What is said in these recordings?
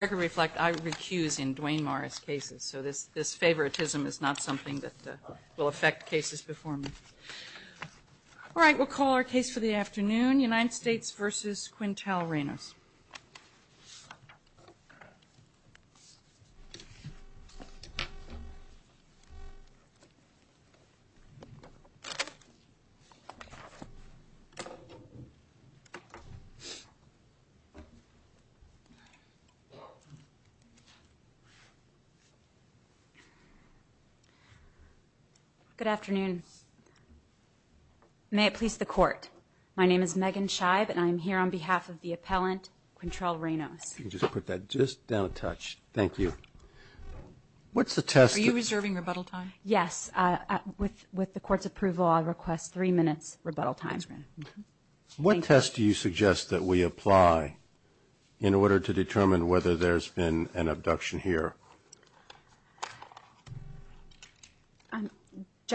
Reflect I recuse in Dwayne Morris cases so this this favoritism is not something that will affect cases before me. All right we'll call our case for the afternoon United States versus Quintel Reynos. Good afternoon may it please the court my name is Megan Scheib and I'm here on behalf of the appellant Quintel Reynos. You can just put that just down a touch thank you. What's the test? Are you reserving rebuttal time? Yes with with the court's approval I'll request three minutes rebuttal time. What test do you determine whether there's been an abduction here?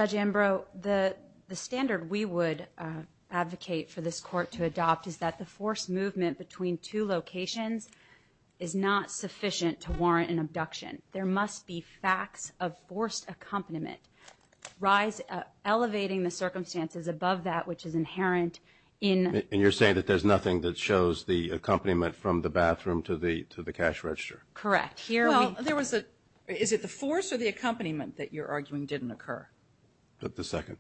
Judge Ambrose the the standard we would advocate for this court to adopt is that the forced movement between two locations is not sufficient to warrant an abduction. There must be facts of forced accompaniment rise elevating the circumstances above that which is inherent in. And you're saying that there's nothing that shows the accompaniment from the bathroom to the to the cash register? Correct here well there was a is it the force or the accompaniment that you're arguing didn't occur? The second.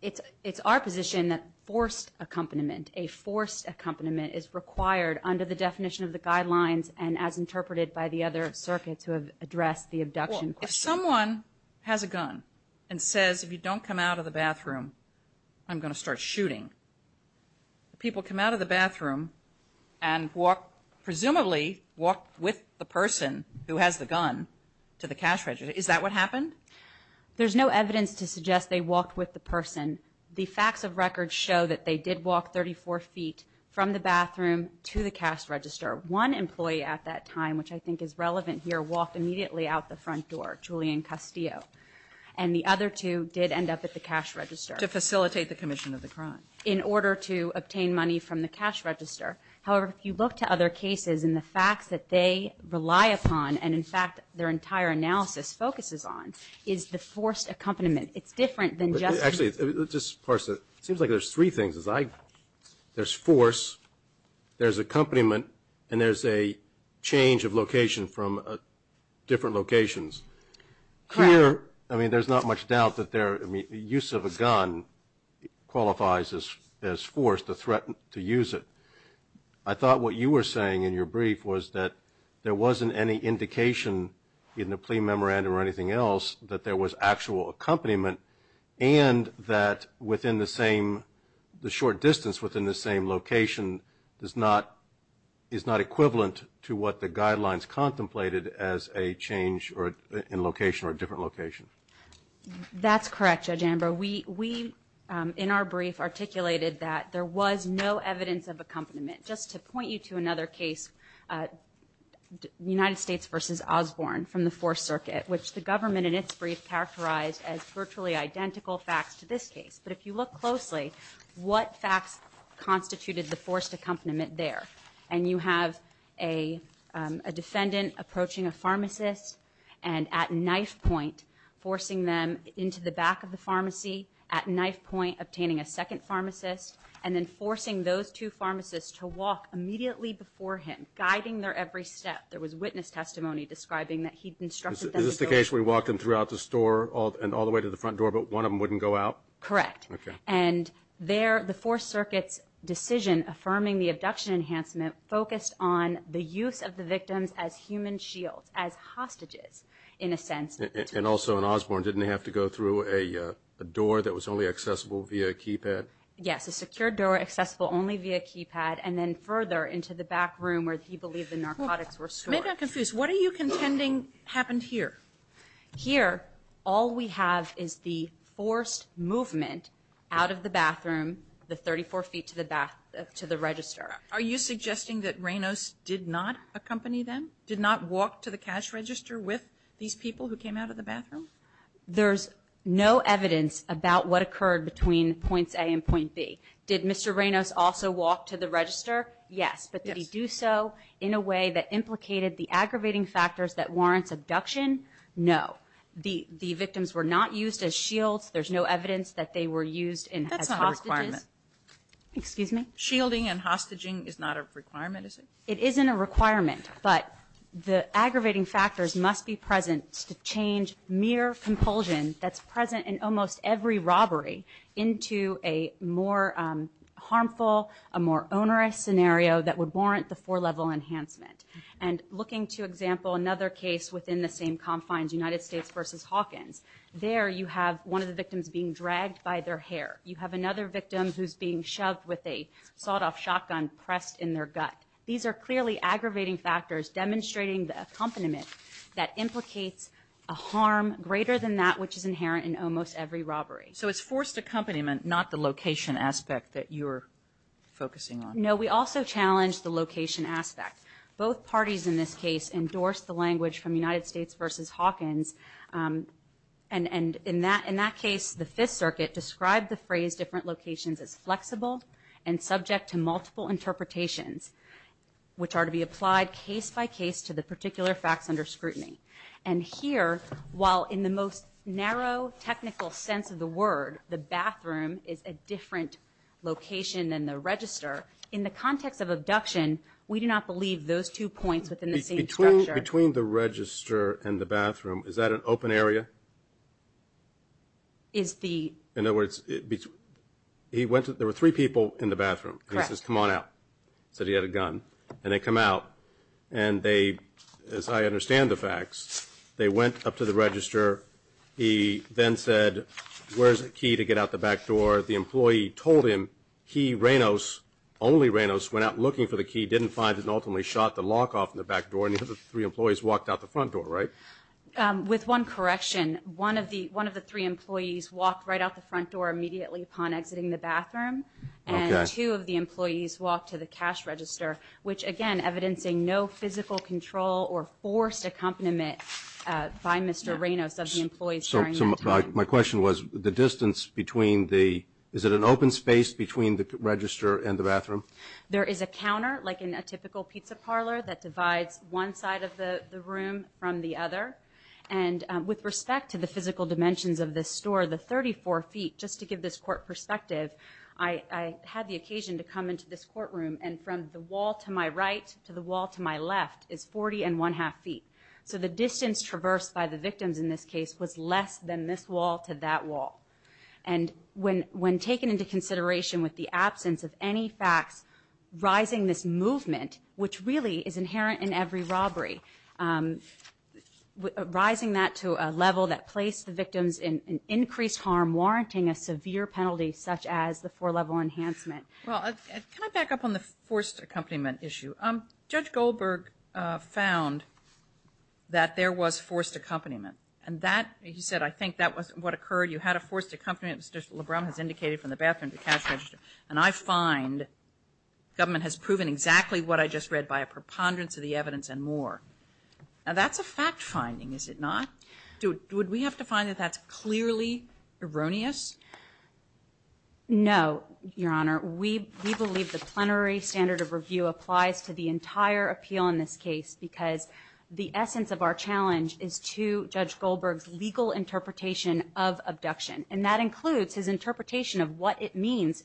It's it's our position that forced accompaniment a forced accompaniment is required under the definition of the guidelines and as interpreted by the other circuits who have addressed the abduction. If someone has a gun and says if you don't come out of the bathroom I'm gonna start shooting people come out of the bathroom and walk presumably walked with the person who has the gun to the cash register. Is that what happened? There's no evidence to suggest they walked with the person. The facts of record show that they did walk 34 feet from the bathroom to the cash register. One employee at that time which I think is relevant here walked immediately out the front door Julian Castillo and the other two did end up at the cash register. To facilitate the mission of the crime. In order to obtain money from the cash register. However if you look to other cases and the facts that they rely upon and in fact their entire analysis focuses on is the forced accompaniment. It's different than just actually just parse it seems like there's three things as I there's force there's accompaniment and there's a change of location from different locations. Here I mean there's not much doubt that there I mean use of a gun qualifies as as force to threaten to use it. I thought what you were saying in your brief was that there wasn't any indication in the plea memorandum or anything else that there was actual accompaniment and that within the same the short distance within the same location does not is not equivalent to what the guidelines contemplated as a change or in location or a different location. That's correct Judge Amber we we in our brief articulated that there was no evidence of accompaniment just to point you to another case United States versus Osborne from the Fourth Circuit which the government in its brief characterized as virtually identical facts to this case but if you look closely what facts constituted the forced accompaniment there and you have a defendant approaching a pharmacist and at knife point forcing them into the back of the pharmacy at knife point obtaining a second pharmacist and then forcing those two pharmacists to walk immediately before him guiding their every step there was witness testimony describing that he constructed this is the case we walked him throughout the store all and all the way to the front door but one of them wouldn't go out correct and there the Fourth Circuit's affirming the abduction enhancement focused on the use of the victims as human shields as hostages in a sense and also in Osborne didn't have to go through a door that was only accessible via keypad yes a secure door accessible only via keypad and then further into the back room where he believed the narcotics were stored. What are you contending happened here? Here all we have is the forced movement out of the bathroom the 34 feet to the back of the bathroom. Are you suggesting that Reynos did not accompany them? Did not walk to the cash register with these people who came out of the bathroom? There's no evidence about what occurred between points A and point B. Did Mr. Reynos also walk to the register? Yes. But did he do so in a way that implicated the aggravating factors that warrants abduction? No. The the victims were not used as shields. There's no evidence that they were used as hostages. Excuse me? Shielding and hostaging is not a requirement is it? It isn't a requirement but the aggravating factors must be present to change mere compulsion that's present in almost every robbery into a more harmful a more onerous scenario that would warrant the four-level enhancement and looking to example another case within the same confines United States versus Hawkins there you have one of the victims being dragged by their hair you have another victim who's being shoved with a sawed-off shotgun pressed in their gut these are clearly aggravating factors demonstrating the accompaniment that implicates a harm greater than that which is inherent in almost every robbery so it's forced accompaniment not the location aspect that you're focusing on no we also challenged the location aspect both parties in this case endorsed the language from United States versus Hawkins and and in that in that case the locations is flexible and subject to multiple interpretations which are to be applied case-by-case to the particular facts under scrutiny and here while in the most narrow technical sense of the word the bathroom is a different location than the register in the context of abduction we do not believe those two points within the same between the register and the bathroom is that an he went to there were three people in the bathroom come on out so he had a gun and they come out and they as I understand the facts they went up to the register he then said where's the key to get out the back door the employee told him he Reynolds only Reynolds went out looking for the key didn't find it ultimately shot the lock off in the back door and the three employees walked out the front door right with one correction one of the one of the three employees walked right out the front door immediately upon exiting the bathroom and two of the employees walked to the cash register which again evidencing no physical control or forced accompaniment by mr. Reynolds of the employees so my question was the distance between the is it an open space between the register and the bathroom there is a counter like in a typical pizza parlor that divides one side of the room from the other and with respect to the physical dimensions of this store the 34 feet just to give this court perspective I had the occasion to come into this courtroom and from the wall to my right to the wall to my left is 40 and one-half feet so the distance traversed by the victims in this case was less than this wall to that wall and when when taken into consideration with the absence of any facts rising this movement which really is inherent in every robbery rising that to a level that placed the victims in increased harm warranting a severe penalty such as the four level enhancement well I back up on the forced accompaniment issue um judge Goldberg found that there was forced accompaniment and that he said I think that was what occurred you had a forced accompaniment mr. LeBron has indicated from the bathroom to cash register and I find government has proven exactly what I just read by a preponderance of the evidence and more now that's a fact finding is it not do it would we have to find that that's clearly erroneous no your honor we believe the plenary standard of review applies to the entire appeal in this case because the essence of our challenge is to judge Goldberg's legal interpretation of abduction and that includes his interpretation of what it means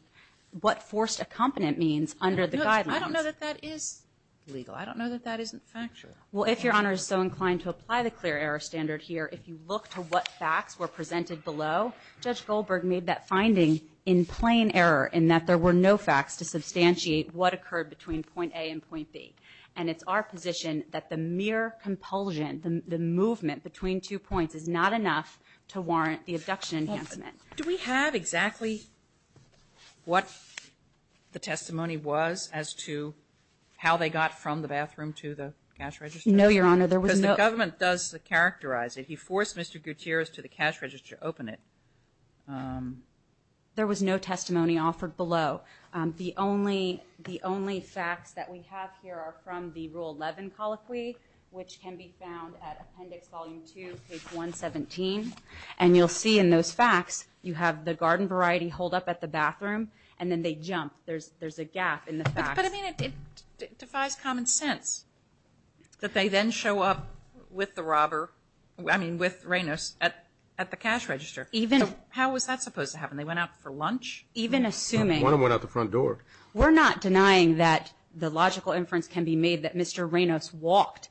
what forced accompaniment means under the guidelines I don't know that that is legal I don't know that that isn't factual well if your honor is so inclined to apply the clear error standard here if you look to what facts were presented below judge Goldberg made that finding in plain error in that there were no facts to substantiate what occurred between point A and point B and it's our position that the mere compulsion the movement between two points is not enough to warrant the abduction enhancement do we have exactly what the testimony was as to how they got from the bathroom to the cash register no your honor there was no government does characterize it he forced mr. Gutierrez to the cash register open it there was no testimony offered below the only the only facts that we have here are from the rule 11 colloquy which can be found at appendix volume 2 page 117 and you'll see in those facts you have the garden variety hold up at the bathroom and then they jump there's there's a gap in the fact I mean it defies common sense that they then show up with the robber I mean with Reynos at at the cash register even how was that supposed to happen they went out for lunch even assuming one went out the front door we're not denying that the logical inference can be made that Mr. Reynos walked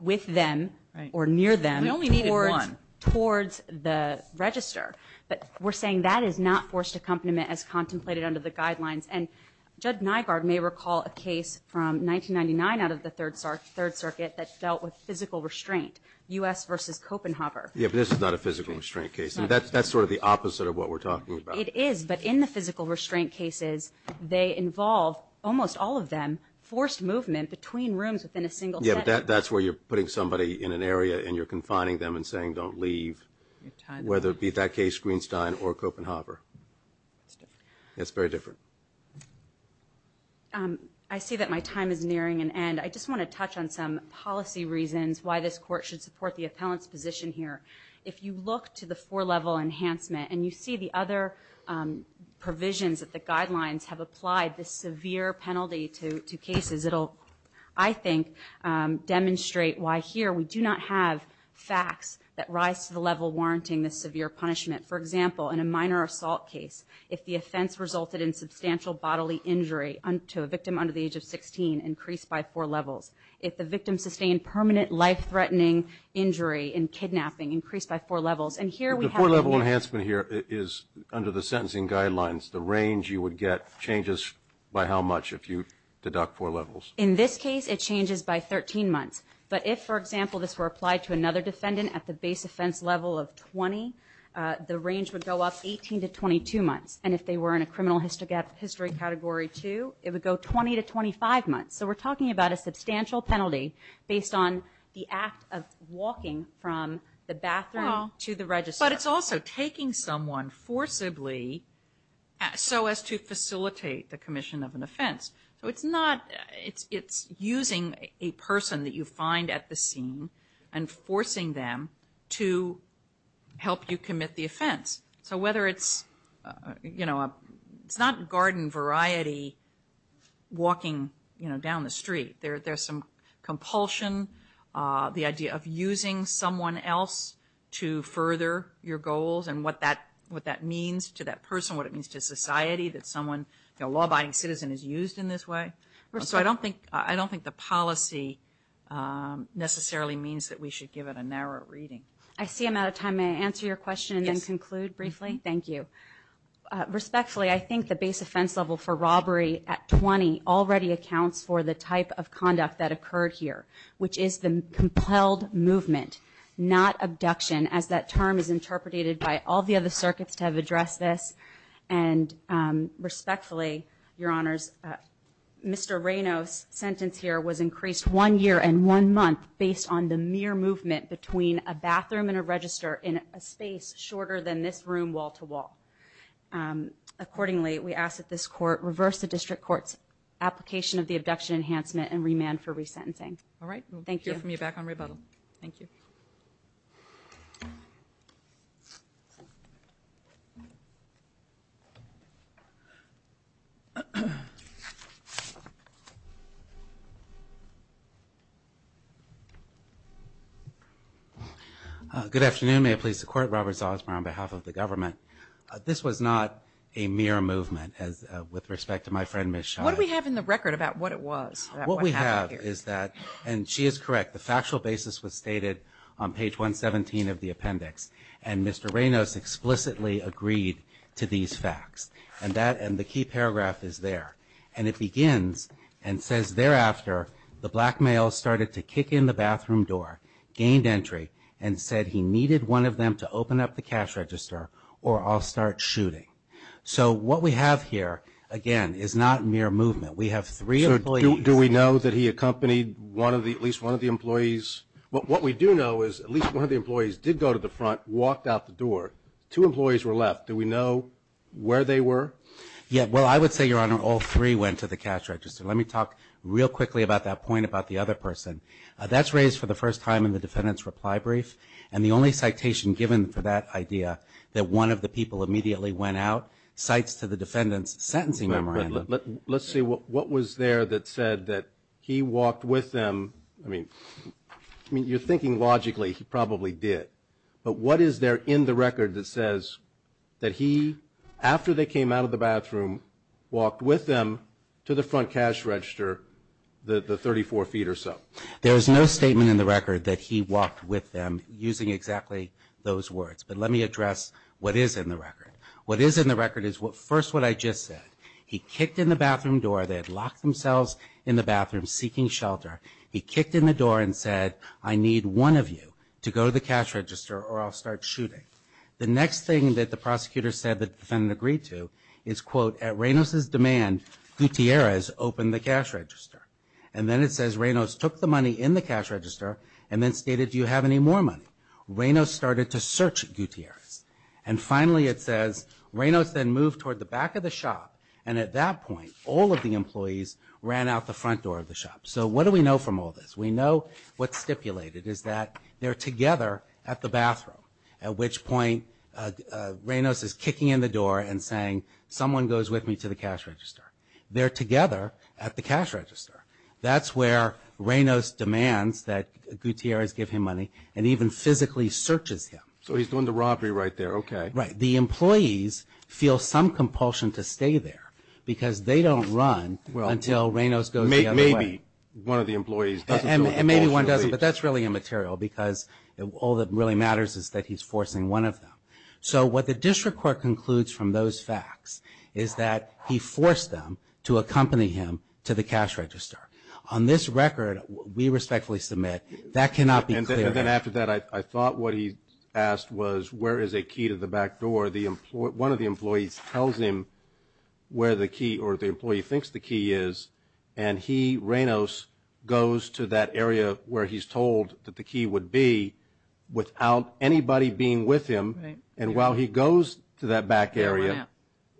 with them or near them towards the register but we're saying that is not forced accompaniment as contemplated under the guidelines and Judd Nygaard may recall a case from 1999 out of the Third Circuit that dealt with physical restraint US versus Copenhaver yeah this is not a physical restraint case that's that's sort of the opposite of what we're talking about it is but in the physical restraint cases they involve almost all of them forced movement between rooms within a single yeah that that's where you're putting somebody in an area and you're confining them and saying don't leave whether it be that case Greenstein or Copenhaver it's very different I see that my time is nearing an end I just want to touch on some policy reasons why this court should support the appellant's position here if you look to the four level enhancement and you see the other provisions that the guidelines have I think demonstrate why here we do not have facts that rise to the level warranting this severe punishment for example in a minor assault case if the offense resulted in substantial bodily injury unto a victim under the age of 16 increased by four levels if the victim sustained permanent life-threatening injury in kidnapping increased by four levels and here we have a level enhancement here is under the sentencing guidelines the range you would get changes by how much if you deduct four levels in this case it changes by 13 months but if for example this were applied to another defendant at the base offense level of 20 the range would go up 18 to 22 months and if they were in a criminal history category 2 it would go 20 to 25 months so we're talking about a substantial penalty based on the act of walking from the bathroom to the register but it's also taking someone forcibly so as to facilitate the commission of an offense so it's not it's using a person that you find at the scene and forcing them to help you commit the offense so whether it's you know it's not garden variety walking you know down the street there there's some compulsion the idea of using someone else to further your goals and what that what that means to that person what it means to society that someone a law-abiding citizen is used in this way so I don't think I don't think the policy necessarily means that we should give it a narrow reading. I see I'm out of time may I answer your question and conclude briefly? Thank you. Respectfully I think the base offense level for robbery at 20 already accounts for the type of conduct that occurred here which is the compelled movement not abduction as that term is interpreted by all the other circuits to have addressed this and respectfully your honors Mr. Reyno's sentence here was increased one year and one month based on the mere movement between a bathroom and a register in a space shorter than this room wall-to-wall. Accordingly we ask that this court reverse the district courts application of the abduction enhancement and remand for resentencing. All right thank you. We'll hear from you back on rebuttal. Thank you. Good afternoon may it please the court Robert Zausman on behalf of the government. This was not a mere movement as with respect to my friend Ms. Schein. What do we have in the record about what it was? What we have is that and she is correct the factual basis was stated on page 117 of the appendix and Mr. Reynos explicitly agreed to these facts and that and the key paragraph is there and it begins and says thereafter the blackmail started to kick in the bathroom door gained entry and said he needed one of them to open up the cash register or I'll start shooting. So what we have here again is not mere movement we have three employees. Do we know that he accompanied one of the at least one of the employees? What we do know is at least one of the employees did go to the front walked out the door. Two employees were left. Do we know where they were? Yeah well I would say your honor all three went to the cash register. Let me talk real quickly about that point about the other person. That's raised for the first time in the defendant's reply brief and the only citation given for that idea that one of the people immediately went out cites to the defendant's sentencing memorandum. Let's see what was there that said that he walked with them. I mean I mean you're thinking logically he probably did but what is there in the record that says that he walked with them? There is no statement in the record that says that he after they came out of the bathroom walked with them to the front cash register the 34 feet or so. There is no statement in the record that he walked with them using exactly those words but let me address what is in the record. What is in the record is what first what I just said he kicked in the bathroom door they had locked themselves in the bathroom seeking shelter he kicked in the door and said I need one of you to go to the cash register or I'll start shooting. The next thing that the prosecutor said that the defendant agreed to is quote at Reynos's demand Gutierrez opened the cash register and then it says Reynos took the money in the cash register and then stated do you have any more money? Reynos started to search Gutierrez and finally it says Reynos then moved toward the back of the shop and at that point all of the employees ran out the front door of the shop. So what do we know from all this? We know what's stipulated is that they're together at the bathroom at which point Reynos is kicking in the door and saying someone goes with me to the cash register. They're together at the cash register that's where Reynos demands that Gutierrez give him money and even physically searches him. So he's doing the robbery right there okay. Right the employees feel some compulsion to stay there because they don't run until Reynos goes the other way. Maybe one of the employees doesn't feel compulsion. Maybe one doesn't but that's really immaterial because all that really matters is that he's forcing one of them. So what the district court concludes from those facts is that he forced them to accompany him to the cash register. On this record we respectfully submit that cannot be cleared. And then after that I think that's it. I thought what he asked was where is a key to the back door. One of the employees tells him where the key or the employee thinks the key is and he Reynos goes to that area where he's told that the key would be without anybody being with him and while he goes to that back area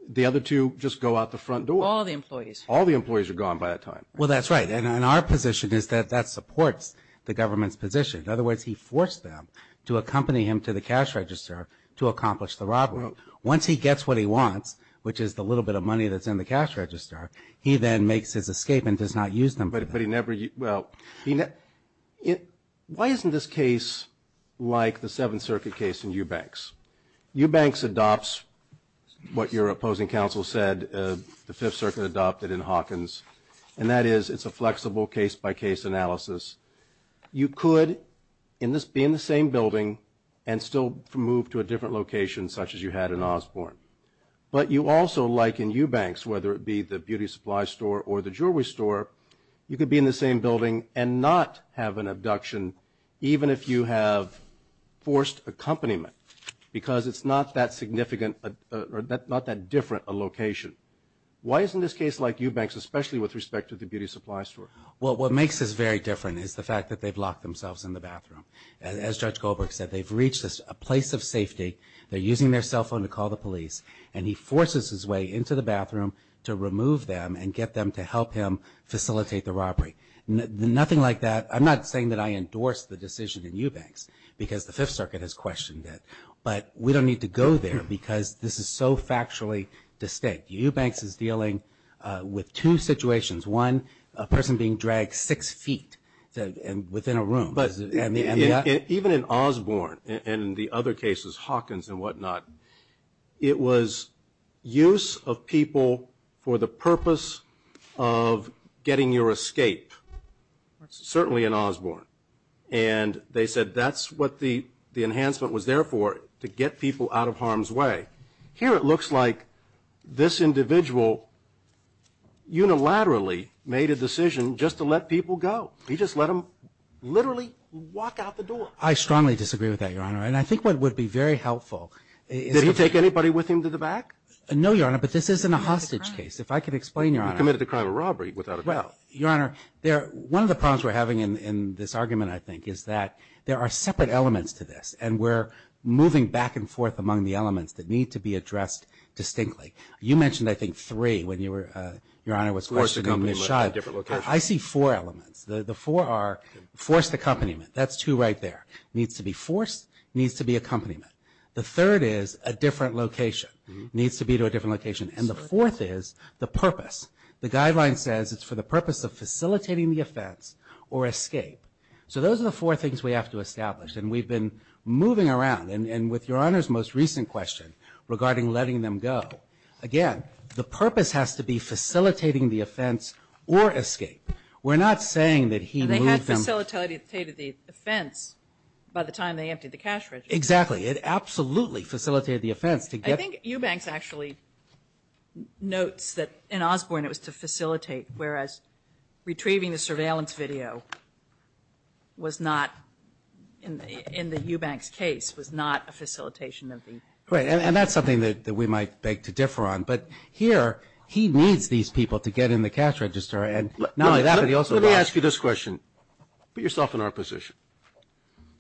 the other two just go out the front door. All the employees. All the employees are gone by that time. Well that's right and in our position is that that supports the government's position. In other words he forced them to accompany him to the cash register to accomplish the robbery. Once he gets what he wants, which is the little bit of money that's in the cash register, he then makes his escape and does not use them. Why isn't this case like the Seventh Circuit case in Eubanks? Eubanks adopts what your opposing counsel said the Fifth Circuit adopted in Hawkins and that is it's a flexible case by case analysis. You could be in the same building and still move to a different location such as you had in Osborne. But you also like in Eubanks, whether it be the beauty supply store or the jewelry store, you could be in the same building and not have an abduction even if you have forced accompaniment because it's not that significant or not that different a location. Why isn't this case like Eubanks especially with respect to the beauty supply store? Well what makes this very different is the fact that they've locked themselves in the bathroom. As Judge Goldberg said, they've reached a place of safety. They're using their cell phone to call the police and he forces his way into the bathroom to remove them and get them to help him facilitate the robbery. Nothing like that. I'm not saying that I endorse the decision in Eubanks because the Fifth Circuit has questioned it. But we don't need to go there because this is so factually distinct. Eubanks is dealing with two situations. One, a person being dragged six feet within a room. Even in Osborne and the other cases, Hawkins and whatnot, it was use of people for the purpose of getting your escape. Certainly in Osborne. And they said that's what the enhancement was there for, to get people out of harm's way. Here it looks like this individual unilaterally made a decision just to let people go. He just let them literally walk out the door. I strongly disagree with that, Your Honor. And I think what would be very helpful is... Did he take anybody with him to the back? No, Your Honor, but this isn't a hostage case. If I could explain, Your Honor... He committed the crime of robbery without a doubt. One of the problems we're having in this argument, I think, is that there are separate elements to this. And we're moving back and forth among the elements that need to be addressed distinctly. You mentioned, I think, three when Your Honor was questioning Mishai. Forced accompaniment to a different location. I see four elements. The four are forced accompaniment. That's two right there. Needs to be forced, needs to be accompaniment. The third is a different location. Needs to be to a different location. And the fourth is the purpose. The guideline says it's for the purpose of facilitating the offense or escape. So those are the four things we have to establish. And we've been moving around. And with Your Honor's most recent question regarding letting them go, again, the purpose has to be facilitating the offense or escape. We're not saying that he moved them... They had facilitated the offense by the time they emptied the cash register. Exactly. It absolutely facilitated the offense to get... I think Eubanks actually notes that in Osborne it was to facilitate, whereas retrieving the surveillance video was not, in the Eubanks case, was not a facilitation of the... Right. And that's something that we might beg to differ on. But here, he needs these people to get in the cash register. And not only that, but he also... Let me ask you this question. Put yourself in our position.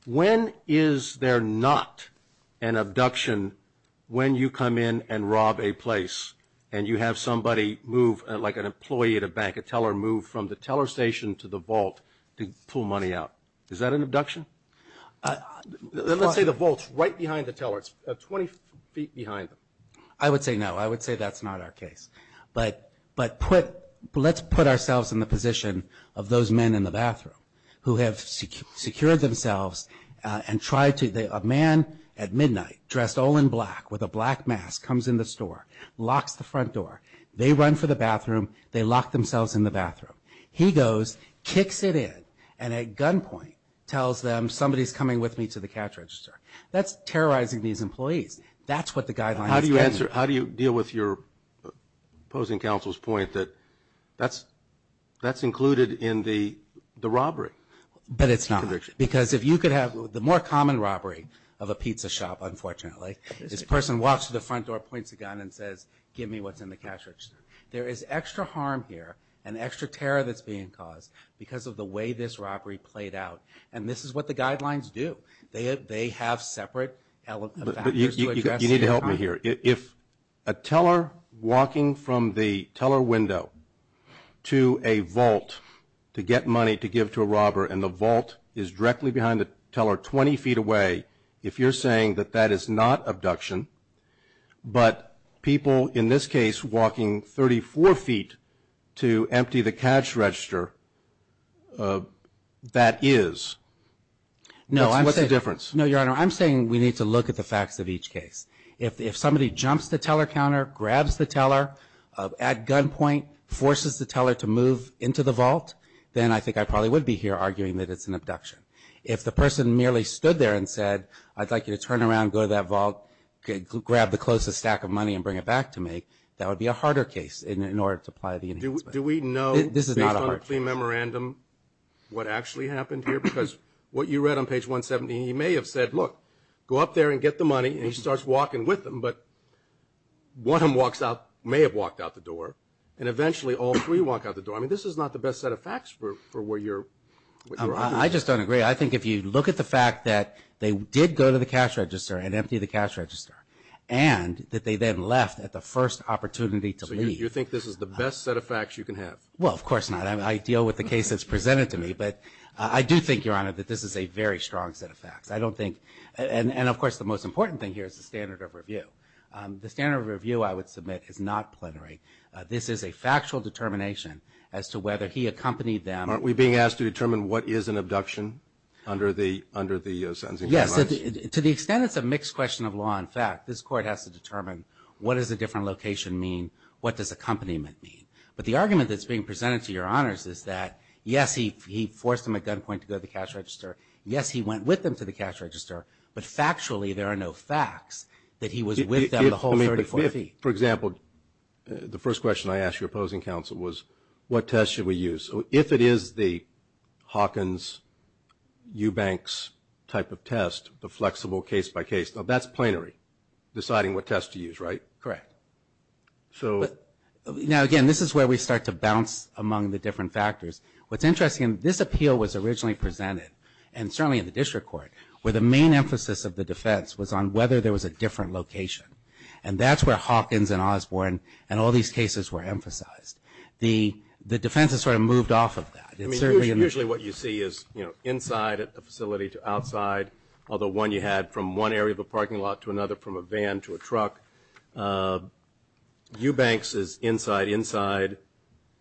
When is there not an abduction when you come in and rob a place and you have somebody move, like an employee at a bank, a teller move from the teller station to the vault to pull money out? Is that an abduction? Let's say the vault's right behind the teller. It's 20 feet behind them. I would say no. I would say that's not our case. But let's put ourselves in the position of those men in the bathroom who have secured themselves and tried to... A man at midnight, dressed all in black with a black mask, comes in the store, locks the front door. They run for the bathroom. They lock themselves in the bathroom. He goes, kicks it in, and at gunpoint tells them, somebody's coming with me to the cash register. That's terrorizing these employees. That's what the guidelines... How do you deal with your opposing counsel's point that that's included in the robbery? But it's not, because if you could have the more common robbery of a pizza shop, unfortunately, this person walks to the front door, points a gun, and says, give me what's in the cash register. There is extra harm here and extra terror that's being caused because of the way this robbery played out. And this is what the guidelines do. They have separate factors to address... You need to help me here. If a teller walking from the teller window to a vault to get money to give to a robber, and the vault is directly behind the teller 20 feet away, if you're saying that that is not abduction, but people in this case walking 34 feet to empty the cash register, that is, what's the difference? No, Your Honor, I'm saying we need to look at the facts of each case. If somebody jumps the teller counter, grabs the teller at gunpoint, forces the teller to move into the vault, then I think I probably would be here arguing that it's an abduction. If the person merely stood there and said, I'd like you to turn around, go to that vault, grab the closest stack of money and bring it back to me, that would be a harder case in order to apply the... Do we know, based on the plea memorandum, what actually happened here? Because what you read on page 170, he may have said, look, go up there and get the money, and he starts walking with them, but one of them walks out, may have walked out the door, and eventually all three walk out the door. I mean, this is not the best set of facts for where you're... I just don't agree. I think if you look at the fact that they did go to the cash register and empty the cash register, and that they then left at the first opportunity to leave... So you think this is the best set of facts you can have? Well, of course not. I deal with the case that's presented to me. But I do think, Your Honor, that this is a very strong set of facts. I don't think... And, of course, the most important thing here is the standard of review. The standard of review, I would submit, is not plenary. This is a factual determination as to whether he accompanied them... Aren't we being asked to determine what is an abduction under the sentencing guidelines? Yes. To the extent it's a mixed question of law and fact, this Court has to determine what does a different location mean, what does accompaniment mean. But the argument that's being presented to Your Honors is that, yes, he forced them at gunpoint to go to the cash register. Yes, he went with them to the cash register, but factually there are no facts that he was with them the whole 30, 40... For example, the first question I asked your opposing counsel was, what test should we use? If it is the Hawkins, Eubanks type of test, the flexible case-by-case, now that's plenary, deciding what test to use, right? Correct. So... Now, again, this is where we start to bounce among the different factors. What's interesting, this appeal was originally presented, and certainly in the District Court, where the main emphasis of the defense was on whether there was a different location. And that's where Hawkins and Osborne and all these cases were emphasized. The defense has sort of moved off of that. Usually what you see is, you know, inside a facility to outside, although one you had from one area of a parking lot to another, from a van to a truck. Eubanks is inside, inside,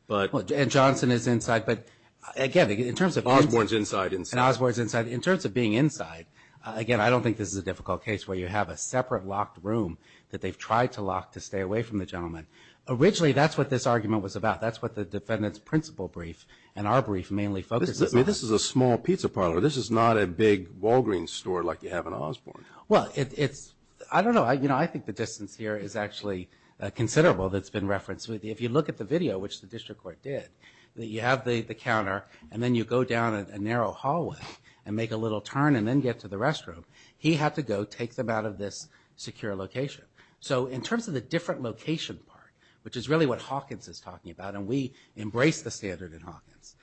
but... And Johnson is inside, but again, in terms of... Osborne's inside, inside. And Osborne's inside. In terms of being inside, again, I don't think this is a difficult case where you have a separate locked room that they've tried to lock to stay away from the gentleman. Originally, that's what this argument was about. That's what the defendant's principle brief and our brief mainly focuses on. I mean, this is a small pizza parlor. This is not a big Walgreens store like you have in Osborne. Well, it's... I don't know. You know, I think the distance here is actually considerable that's been referenced. If you look at the video, which the District Court did, you have the counter and then you go down a narrow hallway and make a little turn and then get to the restroom. He had to go take them out of this secure location. So in terms of the different location part, which is really what Hawkins is talking about, and we embrace the standard in Hawkins,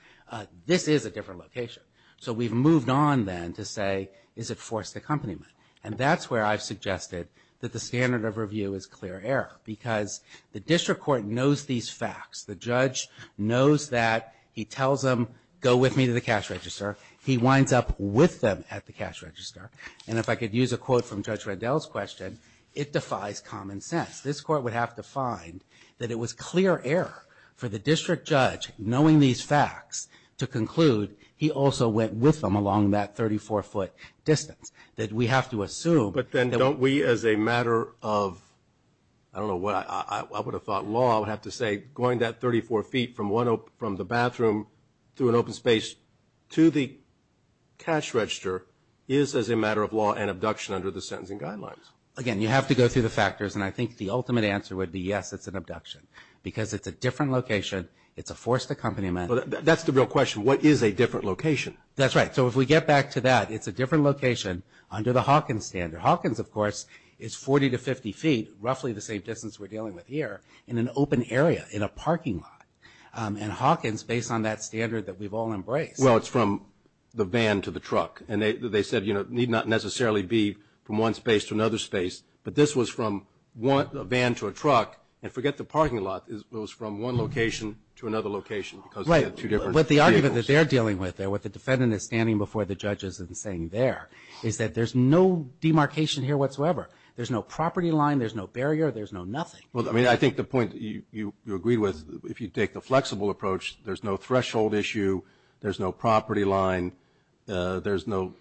this is a different location. So we've moved on then to say, is it forced accompaniment? And that's where I've suggested that the standard of review is clear error because the District Court knows these facts. The judge knows that. He tells them, go with me to the cash register. He winds up with them at the cash register. And if I could use a quote from Judge Reddell's question, it defies common sense. This court would have to find that it was clear error for the district judge, knowing these facts, to conclude he also went with them along that 34-foot distance, that we have to assume. But then don't we, as a matter of, I don't know, I would have thought law, I would have to say going that 34 feet from the bathroom through an open space to the cash register is as a matter of law an abduction under the sentencing guidelines. Again, you have to go through the factors, and I think the ultimate answer would be yes, it's an abduction. Because it's a different location, it's a forced accompaniment. Well, that's the real question. What is a different location? That's right. So if we get back to that, it's a different location under the Hawkins standard. Hawkins, of course, is 40 to 50 feet, roughly the same distance we're dealing with here, in an open area in a parking lot. And Hawkins, based on that standard that we've all embraced. Well, it's from the van to the truck. And they said, you know, it need not necessarily be from one space to another space, but this was from a van to a truck. And forget the parking lot, it was from one location to another location. But the argument that they're dealing with, what the defendant is standing before the judges and saying there, is that there's no demarcation here whatsoever. There's no property line, there's no barrier, there's no nothing. I think the point you agreed with, if you take the flexible approach, there's no threshold issue, there's no property line, there's no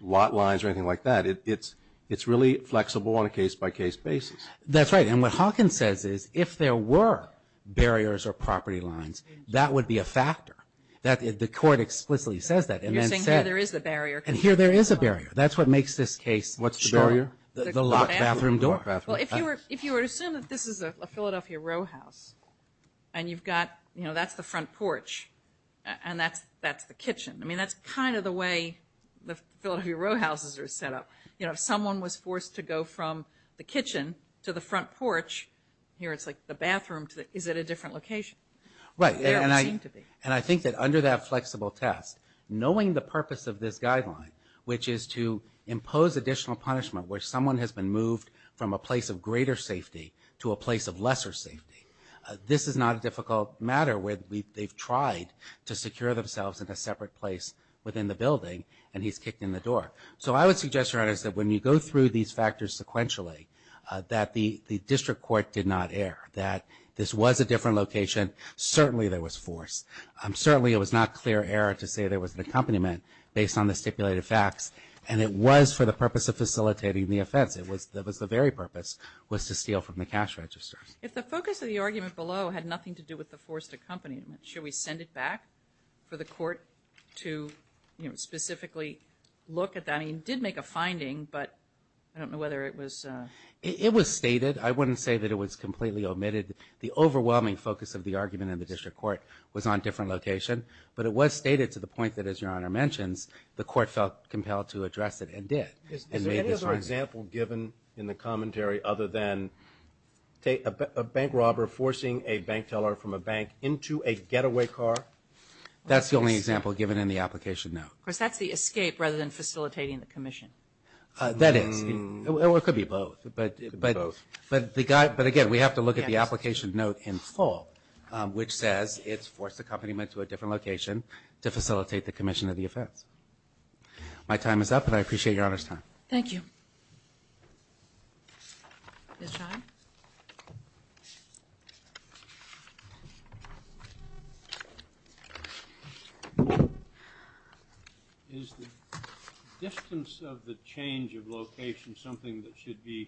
lot lines or anything like that. It's really flexible on a case-by-case basis. That's right. And what Hawkins says is, if there were barriers or property lines, that would be a factor. The court explicitly says that. You're saying here there is a barrier. And here there is a barrier. That's what makes this case short. What's the barrier? The locked bathroom door. Well, if you were to assume that this is a Philadelphia row house, and you've got, you know, that's the front porch, and that's the kitchen. I mean, that's kind of the way the Philadelphia row houses are set up. You know, if someone was forced to go from the kitchen to the front porch, here it's like the bathroom, is it a different location? Right. It doesn't seem to be. And I think that under that flexible test, knowing the purpose of this guideline, which is to impose additional punishment where someone has been moved from a place of greater safety to a place of lesser safety, this is not a difficult matter where they've tried to secure themselves in a separate place within the building, and he's kicked in the door. So I would suggest, Your Honors, that when you go through these factors sequentially, that the district court did not err, that this was a different location. Certainly there was force. Certainly it was not clear error to say there was an accompaniment based on the stipulated facts. And it was for the purpose of facilitating the offense. It was the very purpose was to steal from the cash registers. If the focus of the argument below had nothing to do with the forced accompaniment, should we send it back for the court to, you know, specifically look at that? I mean, it did make a finding, but I don't know whether it was. It was stated. I wouldn't say that it was completely omitted. The overwhelming focus of the argument in the district court was on different location, but it was stated to the point that, as Your Honor mentions, the court felt compelled to address it and did. Is there any other example given in the commentary other than a bank robber forcing a bank teller from a bank into a getaway car? That's the only example given in the application note. Of course, that's the escape rather than facilitating the commission. That is. It could be both. But again, we have to look at the application note in full, which says it's forced accompaniment to a different location to facilitate the commission of the offense. My time is up, but I appreciate Your Honor's time. Thank you. Is the distance of the change of location something that should be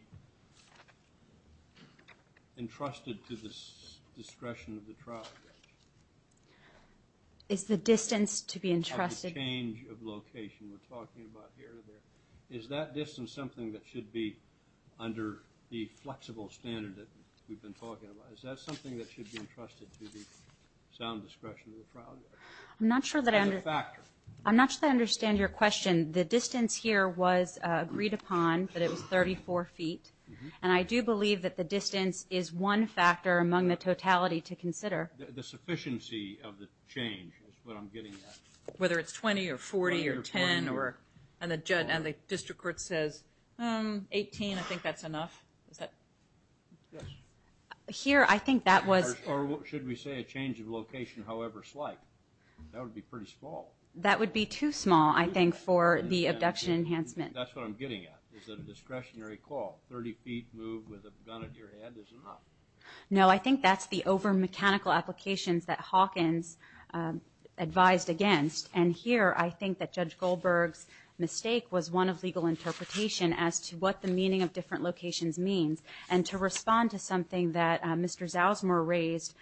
entrusted to the discretion of the trial judge? Is the distance to be entrusted? The change of location we're talking about here. Is that distance something that should be under the flexible standard that we've been talking about? Is that something that should be entrusted to the sound discretion of the trial judge? As a factor. I'm not sure that I understand your question. The distance here was agreed upon that it was 34 feet, and I do believe that the distance is one factor among the totality to consider. The sufficiency of the change is what I'm getting at. Whether it's 20 or 40 or 10, and the district court says 18, I think that's enough. Here, I think that was... Or should we say a change of location however slight? That would be pretty small. That would be too small, I think, for the abduction enhancement. That's what I'm getting at, is a discretionary call. 30 feet moved with a gun at your head is enough. No, I think that's the over-mechanical applications that Hawkins advised against. And here, I think that Judge Goldberg's mistake was one of legal interpretation as to what the meaning of different locations means. And to respond to something that Mr. Zausmer raised...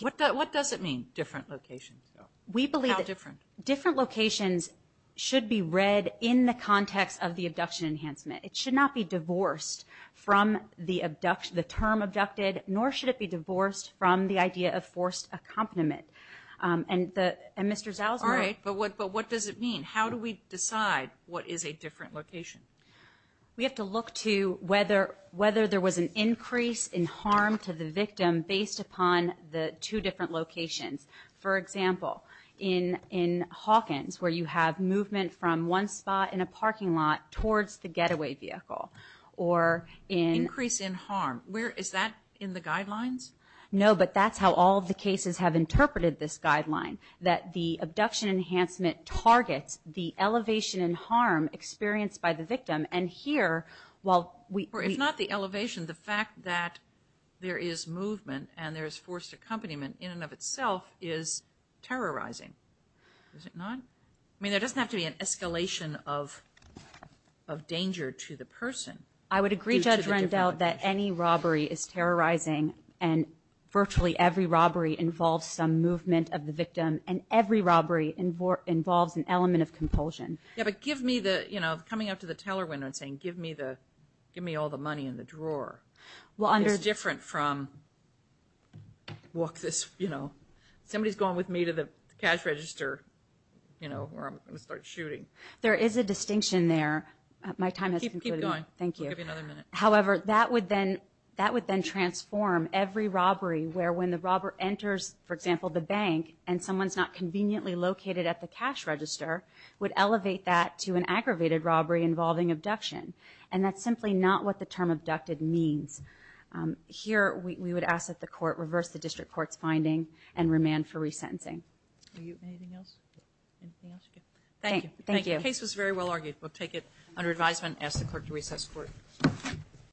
What does it mean, different locations? We believe that different locations should be read in the context of the abduction enhancement. It should not be divorced from the term abducted, nor should it be divorced from the idea of forced accompaniment. And Mr. Zausmer... All right, but what does it mean? How do we decide what is a different location? We have to look to whether there was an increase in harm to the victim based upon the two different locations. For example, in Hawkins, where you have movement from one spot in a parking lot towards the getaway vehicle, or in... Increase in harm. Is that in the guidelines? No, but that's how all of the cases have interpreted this guideline, that the abduction enhancement targets the elevation in harm experienced by the victim. And here, while we... If not the elevation, the fact that there is movement and there is forced accompaniment in and of itself is terrorizing. Is it not? I mean, there doesn't have to be an escalation of danger to the person. I would agree, Judge Rendell, that any robbery is terrorizing, and virtually every robbery involves some movement of the victim, and every robbery involves an element of compulsion. Yeah, but give me the... You know, coming up to the teller window and saying, give me all the money in the drawer. It's different from... You know, somebody's going with me to the cash register, you know, where I'm going to start shooting. There is a distinction there. My time has concluded. Keep going. Thank you. We'll give you another minute. However, that would then transform every robbery, where when the robber enters, for example, the bank, and someone's not conveniently located at the cash register, would elevate that to an aggravated robbery involving abduction. And that's simply not what the term abducted means. Here, we would ask that the court reverse the district court's finding and remand for resentencing. Anything else? Anything else? Thank you. Thank you. The case was very well argued.